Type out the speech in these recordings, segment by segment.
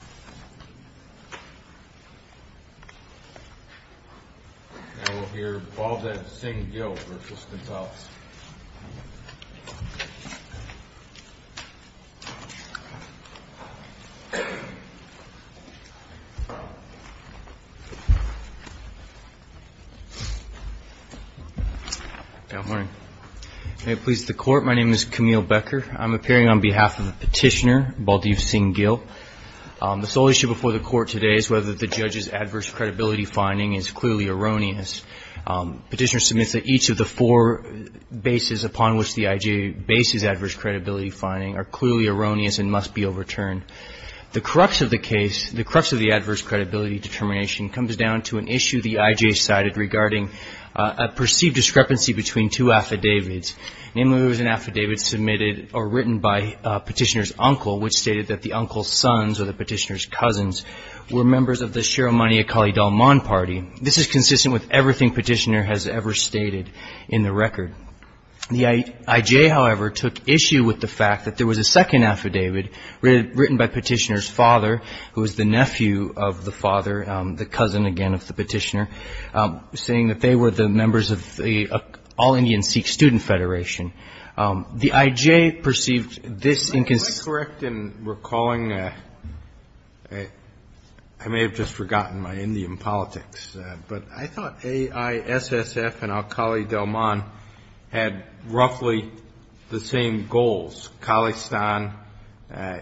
Now we'll hear Baldev Singh Gill v. Gonzales. Good morning. May it please the court, my name is Camille Becker. I'm appearing on behalf of a petitioner, Baldev Singh Gill. The sole issue before the court today is whether the judge's adverse credibility finding is clearly erroneous. Petitioner submits that each of the four bases upon which the IJ bases adverse credibility finding are clearly erroneous and must be overturned. The crux of the case, the crux of the adverse credibility determination comes down to an issue the IJ cited regarding a perceived discrepancy between two affidavits. Namely, there was an affidavit submitted or written by petitioner's uncle which stated that the uncle's sons, or the petitioner's cousins, were members of the Sharamani Akali Dalman party. This is consistent with everything petitioner has ever stated in the record. The IJ, however, took issue with the fact that there was a second affidavit written by petitioner's father, who was the nephew of the father, the cousin again of the petitioner, saying that they were the members of the all-Indian Sikh student federation. The IJ perceived this inconsistency. Am I correct in recalling, I may have just forgotten my Indian politics, but I thought AISSF and Akali Dalman had roughly the same goals, Khalistan,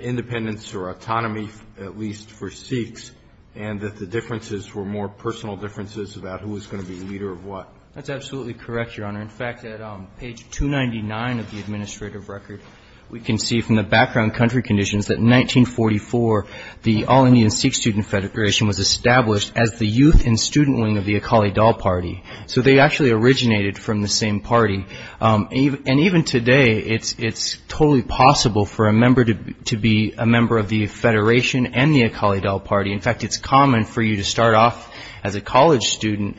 independence or autonomy at least for Sikhs, and that the differences were more personal differences about who was going to be the leader of what? That's absolutely correct, Your Honor. In fact, at page 299 of the administrative record, we can see from the background country conditions that in 1944, the all-Indian Sikh student federation was established as the youth and student wing of the Akali Dal party. So they actually originated from the same party. And even today, it's totally possible for a member to be a member of the federation and the Akali Dal party. In fact, it's common for you to start off as a college student,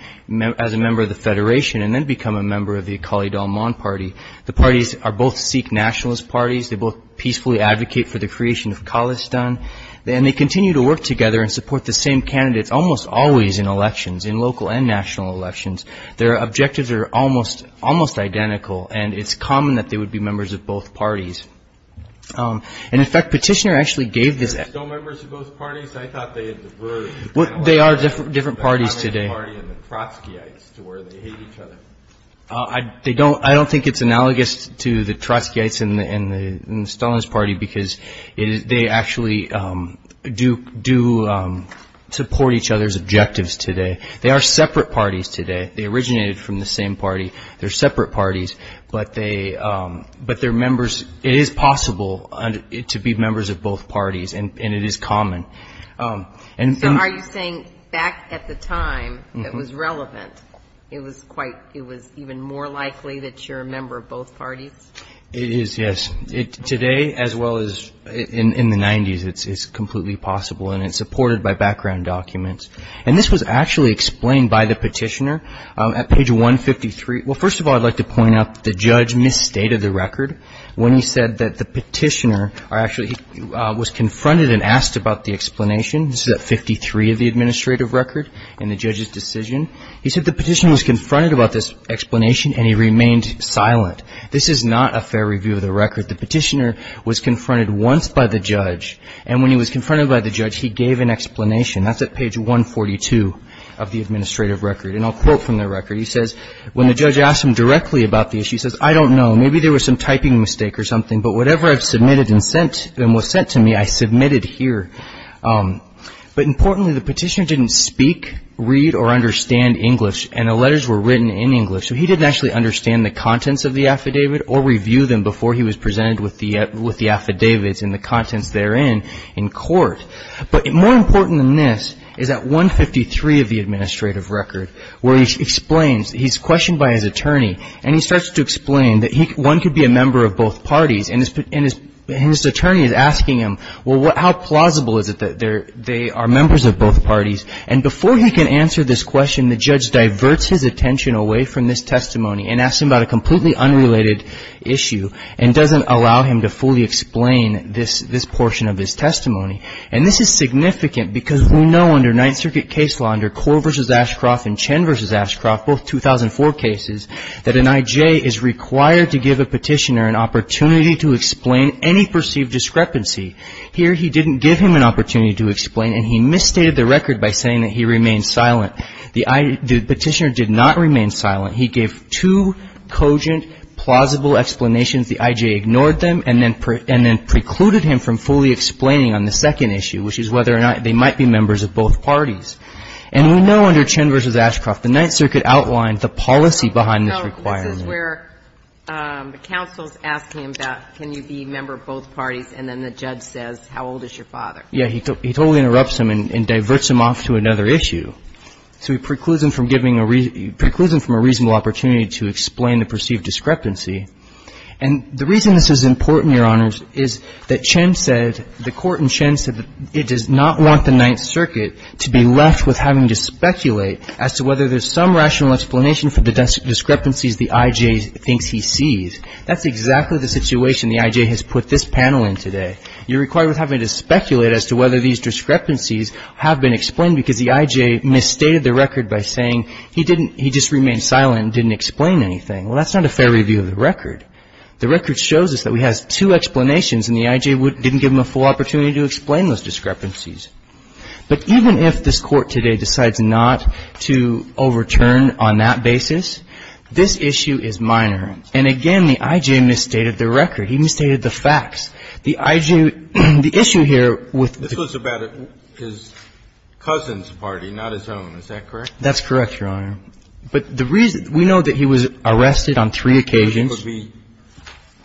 as a member of the federation, and then become a member of the Akali Dalman party. The parties are both Sikh nationalist parties. They both peacefully advocate for the creation of Khalistan. And they continue to work together and support the same candidates almost always in elections, in local and national elections. Their objectives are almost identical, and it's common that they would be members of both parties. And in fact, Petitioner actually gave this... They're still members of both parties? I thought they had diverged. They are different parties today. The Akali Dal party and the Trotskyites, to where they hate each other. I don't think it's analogous to the Trotskyites and the Stalinist party, because they actually do support each other's objectives today. They are separate parties today. They originated from the same party. They're separate parties, but they're members. It is possible to be members of both parties, and it is common. So are you saying back at the time it was relevant, it was even more likely that you're a member of both parties? It is, yes. Today, as well as in the 90s, it's completely possible, and it's supported by background documents. And this was actually explained by the Petitioner at page 153. Well, first of all, I'd like to point out that the judge misstated the record when he said that the Petitioner actually was confronted and asked about the explanation. This is at 53 of the administrative record in the judge's decision. He said the Petitioner was confronted about this explanation, and he remained silent. This is not a fair review of the record. The Petitioner was confronted once by the judge, and when he was confronted by the judge, he gave an explanation. That's at page 142 of the administrative record. And I'll quote from the record. He says, when the judge asked him directly about the issue, he says, I don't know. Maybe there was some typing mistake or something, but whatever I've submitted and was sent to me, I submitted here. But importantly, the Petitioner didn't speak, read, or understand English, and the letters were written in English. So he didn't actually understand the contents of the affidavit or review them before he was presented with the affidavits and the contents therein in court. But more important than this is at 153 of the administrative record, where he explains he's questioned by his attorney, and he starts to explain that one could be a member of both parties, and his attorney is asking him, well, how plausible is it that they are members of both parties? And before he can answer this question, the judge diverts his attention away from this testimony and asks him about a completely unrelated issue and doesn't allow him to fully explain this portion of his testimony. And this is significant because we know under Ninth Circuit case law, under Korr v. Ashcroft and Chen v. Ashcroft, both 2004 cases, that an I.J. is required to give a Petitioner an opportunity to explain any perceived discrepancy. Here, he didn't give him an opportunity to explain, and he misstated the record by saying that he remained silent. The Petitioner did not remain silent. He gave two cogent, plausible explanations. The I.J. ignored them and then precluded him from fully explaining on the second issue, which is whether or not they might be members of both parties. And we know under Chen v. Ashcroft, the Ninth Circuit outlined the policy behind this requirement. So this is where the counsel is asking him about can you be a member of both parties, and then the judge says, how old is your father? Yes. He totally interrupts him and diverts him off to another issue. So he precludes him from giving a reasonable opportunity to explain the perceived discrepancy. And the reason this is important, Your Honors, is that Chen said, the court in Chen said that it does not want the Ninth Circuit to be left with having to speculate as to whether there's some rational explanation for the discrepancies the I.J. thinks he sees. That's exactly the situation the I.J. has put this panel in today. You're required with having to speculate as to whether these discrepancies have been explained because the I.J. misstated the record by saying he didn't he just remained silent and didn't explain anything. Well, that's not a fair review of the record. The record shows us that we have two explanations, and the I.J. didn't give him a full opportunity to explain those discrepancies. But even if this Court today decides not to overturn on that basis, this issue is minor. And again, the I.J. misstated the record. He misstated the facts. The I.J. the issue here with the court is that the I.J. misstated the record. Is it my understanding that he was arrested for the Cousin's Party, not his own, is that correct? That's correct, Your Honor. But the reason we know that he was arrested on three occasions. Cousin's would be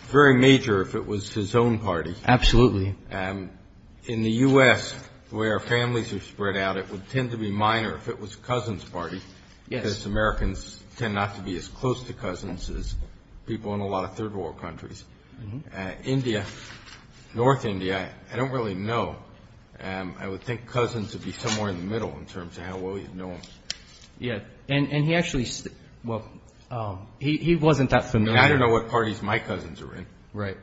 very major if it was his own party. Absolutely. In the U.S., the way our families are spread out, it would tend to be minor if it was Cousin's Party because Americans tend not to be as close to Cousins as people in a lot of third world countries. India, North India, I don't really know. I would think Cousin's would be somewhere in the middle in terms of how well you'd know him. And he actually, well, he wasn't that familiar. I don't know what parties my cousins are in. I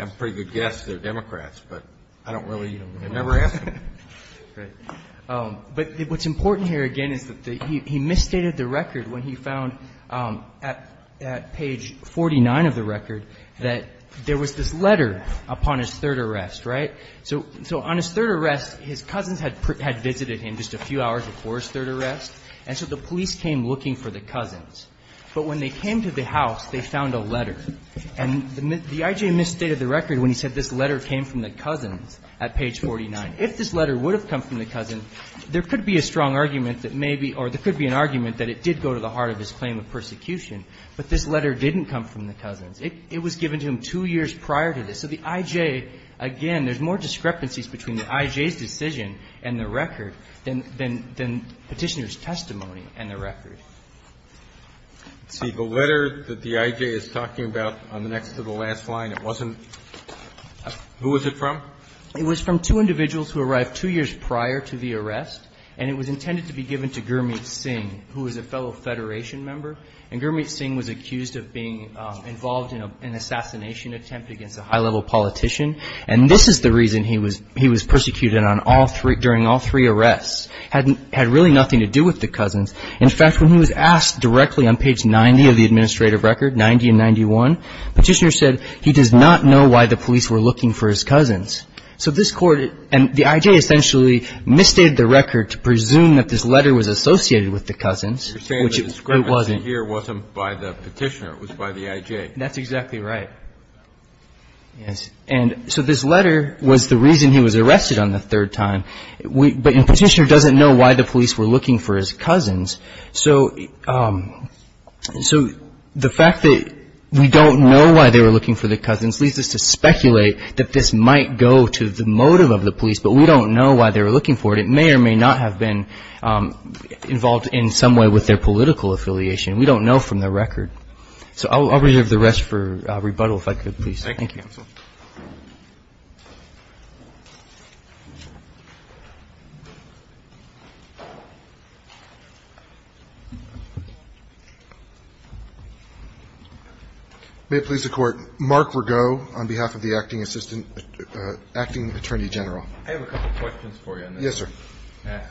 have a pretty good guess they're Democrats, but I don't really, I never asked them. But what's important here again is that he misstated the record when he found at page 49 of the record that there was this letter upon his third arrest, right? So on his third arrest, his cousins had visited him just a few hours before his third arrest, and so the police came looking for the cousins. But when they came to the house, they found a letter. And the I.J. misstated the record when he said this letter came from the cousins at page 49. If this letter would have come from the cousin, there could be a strong argument that maybe, or there could be an argument that it did go to the heart of his claim of persecution, but this letter didn't come from the cousins. It was given to him two years prior to this. So the I.J., again, there's more discrepancies between the I.J.'s decision and the record than Petitioner's testimony and the record. Roberts. See, the letter that the I.J. is talking about on the next to the last line, it wasn't who was it from? It was from two individuals who arrived two years prior to the arrest, and it was intended to be given to Gurmeet Singh, who is a fellow Federation member. And Gurmeet Singh was accused of being involved in an assassination attempt against a high-level politician, and this is the reason he was persecuted during all three arrests. It had really nothing to do with the cousins. In fact, when he was asked directly on page 90 of the administrative record, 90 and 91, Petitioner said he does not know why the police were looking for his cousins. So this Court, and the I.J. essentially misstated the record to presume that this letter was associated with the cousins, which it wasn't. You're saying the discrepancy here wasn't by the Petitioner. It was by the I.J. That's exactly right. Yes. And so this letter was the reason he was arrested on the third time. But Petitioner doesn't know why the police were looking for his cousins. So the fact that we don't know why they were looking for the cousins leads us to speculate that this might go to the motive of the police, but we don't know why they were looking for it. It may or may not have been involved in some way with their political affiliation. We don't know from the record. So I'll reserve the rest for rebuttal, if I could, please. Thank you, counsel. May it please the Court. Mark Rago, on behalf of the Acting Attorney General. I have a couple of questions for you on this. Yes, sir.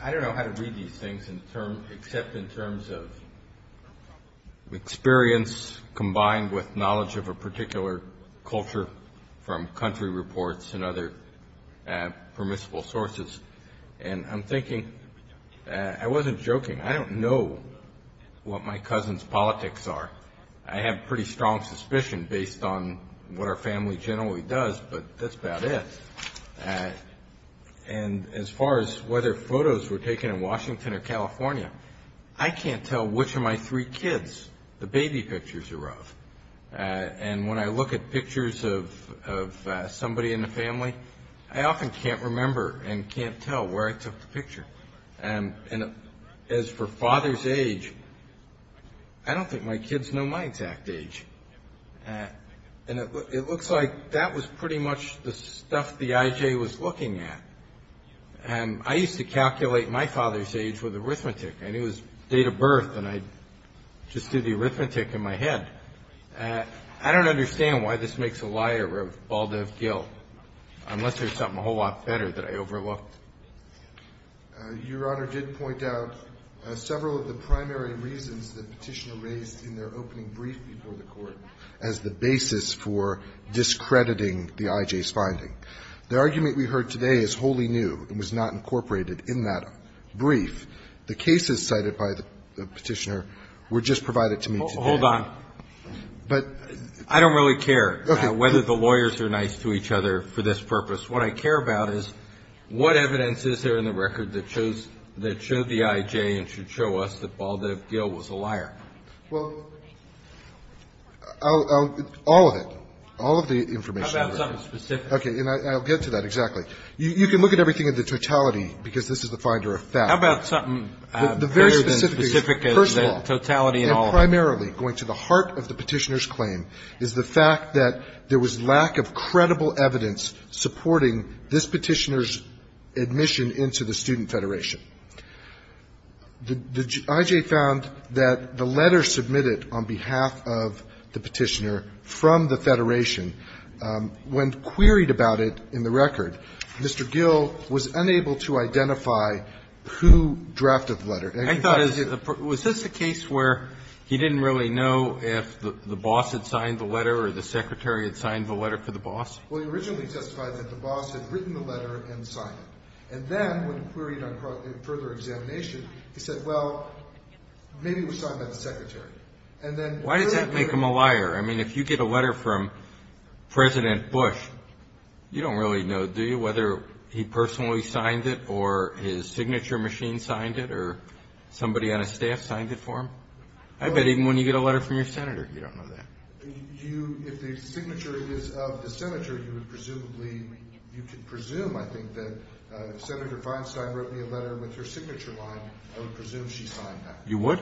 I don't know how to read these things except in terms of experience combined with knowledge of a particular culture from country reports and other permissible sources. And I'm thinking, I wasn't joking, I don't know what my cousins' politics are. I have pretty strong suspicion based on what our family generally does, but that's about it. And as far as whether photos were taken in Washington or California, I can't tell which of my three kids the baby pictures are of. And when I look at pictures of somebody in the family, I often can't remember and can't tell where I took the picture. And as for father's age, I don't think my kids know my exact age. And it looks like that was pretty much the stuff the IJ was looking at. And I used to calculate my father's age with arithmetic. I knew his date of birth, and I just did the arithmetic in my head. I don't understand why this makes a liar of Baldiv Gill, unless there's something a whole lot better that I overlooked. Your Honor did point out several of the primary reasons that Petitioner raised in their opening brief before the Court as the basis for discrediting the IJ's finding. The argument we heard today is wholly new and was not incorporated in that brief. The cases cited by the Petitioner were just provided to me today. Hold on. I don't really care whether the lawyers are nice to each other for this purpose. What I care about is what evidence is there in the record that showed the IJ and should show us that Baldiv Gill was a liar? Well, all of it. All of the information. How about something specific? Okay. And I'll get to that exactly. You can look at everything in the totality, because this is the finder of facts. How about something greater than specific as the totality in all of it? First of all, and primarily going to the heart of the Petitioner's claim, is the fact that there was lack of credible evidence supporting this Petitioner's admission into the Student Federation. The IJ found that the letter submitted on behalf of the Petitioner from the Federation when queried about it in the record, Mr. Gill was unable to identify who drafted the letter. I thought, was this a case where he didn't really know if the boss had signed the letter or the secretary had signed the letter for the boss? Well, he originally testified that the boss had written the letter and signed it. And then when queried on further examination, he said, well, maybe it was signed by the secretary. And then further examination. Why does that make him a liar? I mean, if you get a letter from President Bush, you don't really know, do you, whether he personally signed it or his signature machine signed it or somebody on his staff signed it for him? I bet even when you get a letter from your senator, you don't know that. If the signature is of the senator, you would presumably, you could presume, I think, that Senator Feinstein wrote me a letter with her signature on it. I would presume she signed that. You would?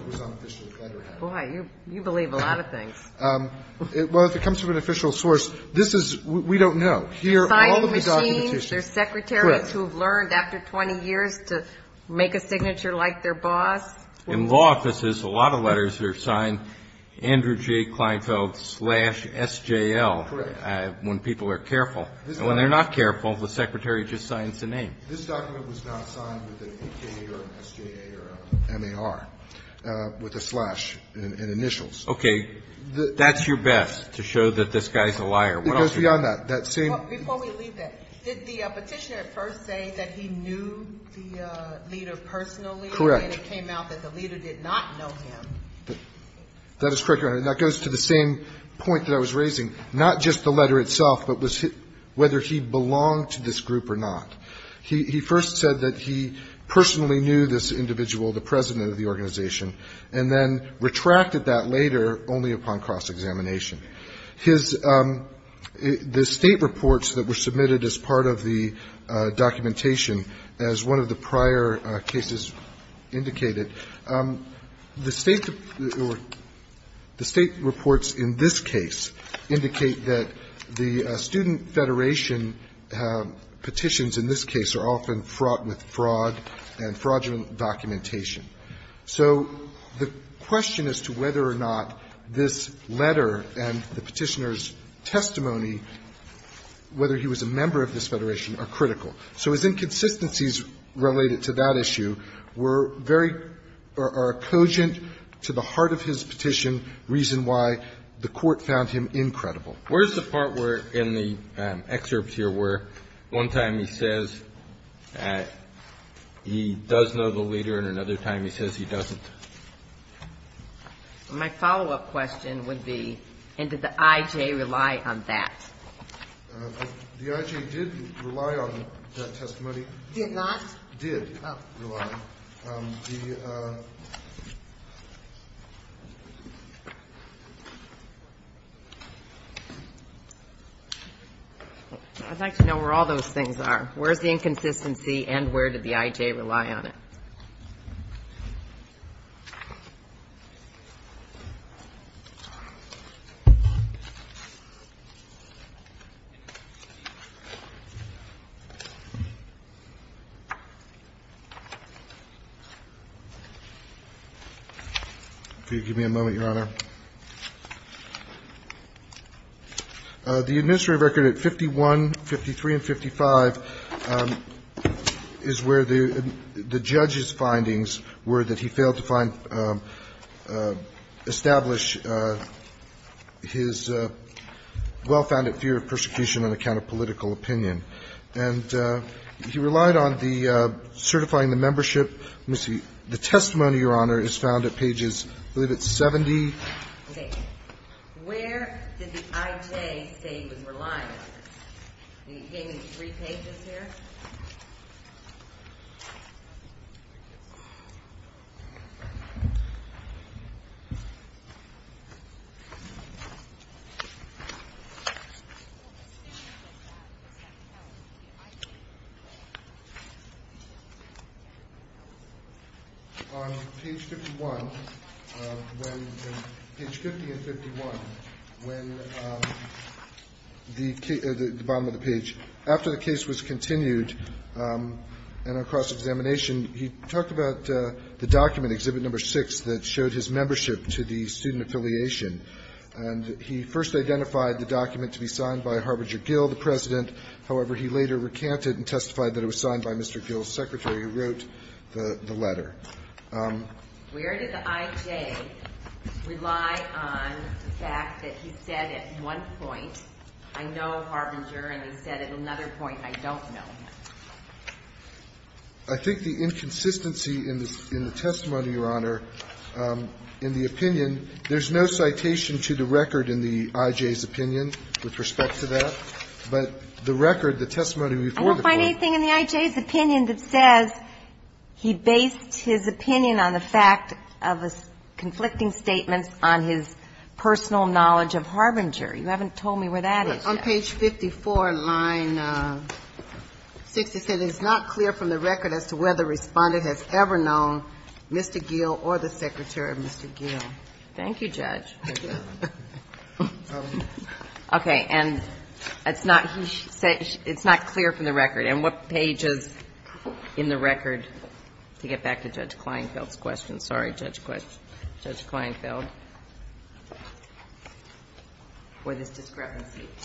Boy, you believe a lot of things. Well, if it comes from an official source, this is we don't know. Here, all of the documentation. Signed machines, there's secretaries who have learned after 20 years to make a signature like their boss. In law offices, a lot of letters are signed Andrew J. Kleinfeld slash SJL. Correct. When people are careful. And when they're not careful, the secretary just signs the name. This document was not signed with an A.K. or an S.J.A. or an M.A.R., with a slash in initials. Okay. That's your best to show that this guy's a liar. It goes beyond that. Before we leave that, did the Petitioner at first say that he knew the leader personally? Correct. And then it came out that the leader did not know him. That is correct, Your Honor. And that goes to the same point that I was raising. Not just the letter itself, but whether he belonged to this group or not. He first said that he personally knew this individual, the president of the organization, and then retracted that later only upon cross-examination. His state reports that were submitted as part of the documentation, as one of the prior cases indicated, the state reports in this case indicate that the Student Federation petitions in this case are often fraught with fraud and fraudulent documentation. So the question as to whether or not this letter and the Petitioner's testimony, whether he was a member of this Federation, are critical. So his inconsistencies related to that issue were very or are cogent to the heart of his petition, reason why the Court found him incredible. Where's the part where in the excerpts here where one time he says he does know the other time he says he doesn't? My follow-up question would be, and did the I.J. rely on that? The I.J. did rely on that testimony. Did not? Did rely. I'd like to know where all those things are. Where's the inconsistency and where did the I.J. rely on it? Could you give me a moment, Your Honor? The administrative record at 51, 53, and 55 is where the judge's findings were that he failed to establish his well-founded fear of persecution on account of political opinion. And he relied on the certifying the membership. Let me see. The testimony, Your Honor, is found at pages, I believe it's 70. Okay. Where did the I.J. say he was relying on it? Can you give me three pages here? On page 51, when page 50 and 51, when the bottom of the page, after the case was continued and across examination, he talked about the document, Exhibit No. 6, that showed his membership to the student affiliation. And he first identified the document to be signed by Harbinger Gill, the President. However, he later recanted and testified that it was signed by Mr. Gill's secretary, who wrote the letter. Where did the I.J. rely on the fact that he said at one point, I know Harbinger, and he said at another point, I don't know? I think the inconsistency in the testimony, Your Honor, in the opinion, there's no citation to the record in the I.J.'s opinion with respect to that. But the record, the testimony before the court was. I don't find anything in the I.J.'s opinion that says he based his opinion on the fact of conflicting statements on his personal knowledge of Harbinger. You haven't told me where that is yet. On page 54, line 67, it's not clear from the record as to whether the respondent has ever known Mr. Gill or the secretary of Mr. Gill. Thank you, Judge. Okay. And it's not clear from the record. And what page is in the record, to get back to Judge Kleinfeld's question? Sorry, Judge Kleinfeld. Where this discrepancy appears.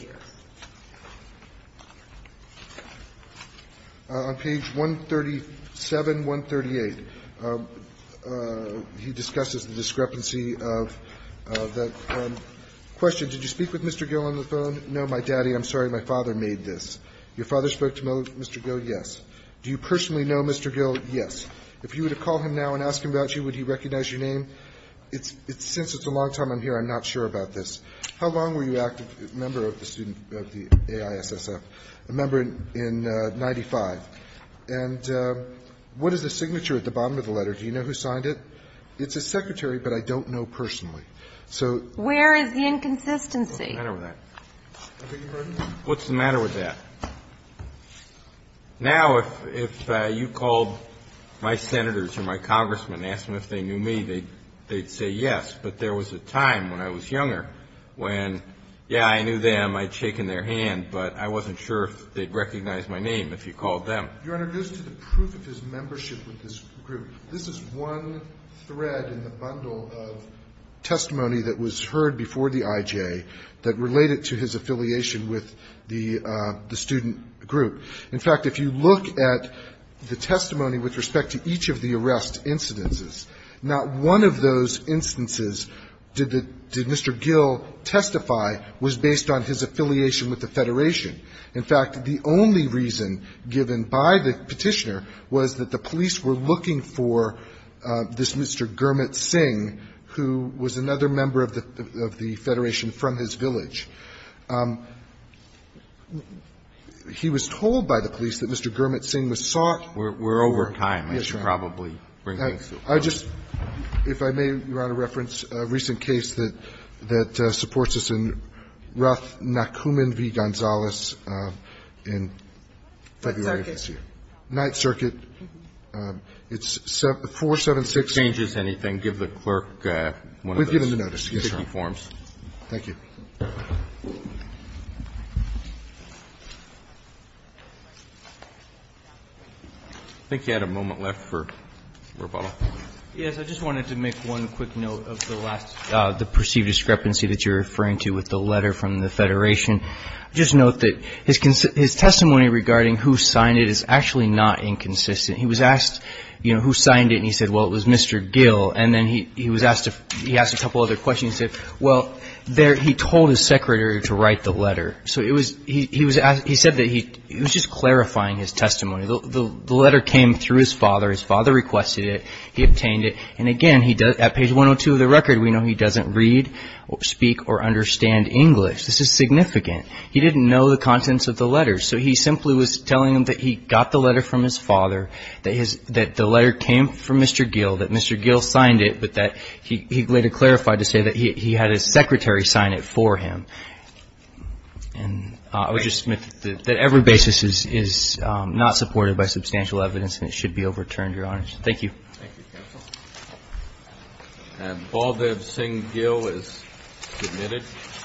On page 137, 138, he discusses the discrepancy of that question. Did you speak with Mr. Gill on the phone? No, my daddy. I'm sorry, my father made this. Your father spoke to Mr. Gill? Yes. Do you personally know Mr. Gill? Yes. If you were to call him now and ask him about you, would he recognize your name? Since it's a long time I'm here, I'm not sure about this. How long were you a member of the AISSF? A member in 95. And what is the signature at the bottom of the letter? Do you know who signed it? It's his secretary, but I don't know personally. Where is the inconsistency? What's the matter with that? I beg your pardon? What's the matter with that? Now, if you called my senators or my congressmen and asked them if they knew me, they'd say yes, but there was a time when I was younger when, yeah, I knew them, I'd shaken their hand, but I wasn't sure if they'd recognize my name if you called them. Your Honor, just to the proof of his membership with this group, this is one thread in the bundle of testimony that was heard before the IJ that related to his affiliation with the student group. In fact, if you look at the testimony with respect to each of the arrest incidences, not one of those instances did Mr. Gill testify was based on his affiliation with the Federation. In fact, the only reason given by the petitioner was that the police were looking for this Mr. Gurmit Singh, who was another member of the Federation from his village. He was told by the police that Mr. Gurmit Singh was sought. We're over time. Yes, Your Honor. I should probably bring things to a close. I just, if I may, Your Honor, reference a recent case that supports this in Roth Nakuman v. Gonzales in February of this year. What circuit? Ninth Circuit. It's 476. If it changes anything, give the clerk one of those. We've given the notice. Thank you. I think you had a moment left for rebuttal. Yes. I just wanted to make one quick note of the last, the perceived discrepancy that you're referring to with the letter from the Federation. Just note that his testimony regarding who signed it is actually not inconsistent. He was asked, you know, who signed it, and he said, well, it was Mr. Gill. And then he was asked a couple other questions. And he said, well, he told his secretary to write the letter. So he said that he was just clarifying his testimony. The letter came through his father. His father requested it. He obtained it. And, again, at page 102 of the record, we know he doesn't read, speak, or understand English. This is significant. He didn't know the contents of the letter. So he simply was telling him that he got the letter from his father, that the letter came from Mr. Gill, that Mr. Gill signed it, but that he later clarified to say that he had his secretary sign it for him. And I would just submit that every basis is not supported by substantial evidence, and it should be overturned, Your Honor. Thank you. Thank you, counsel. And Baldev Singh Gill is admitted.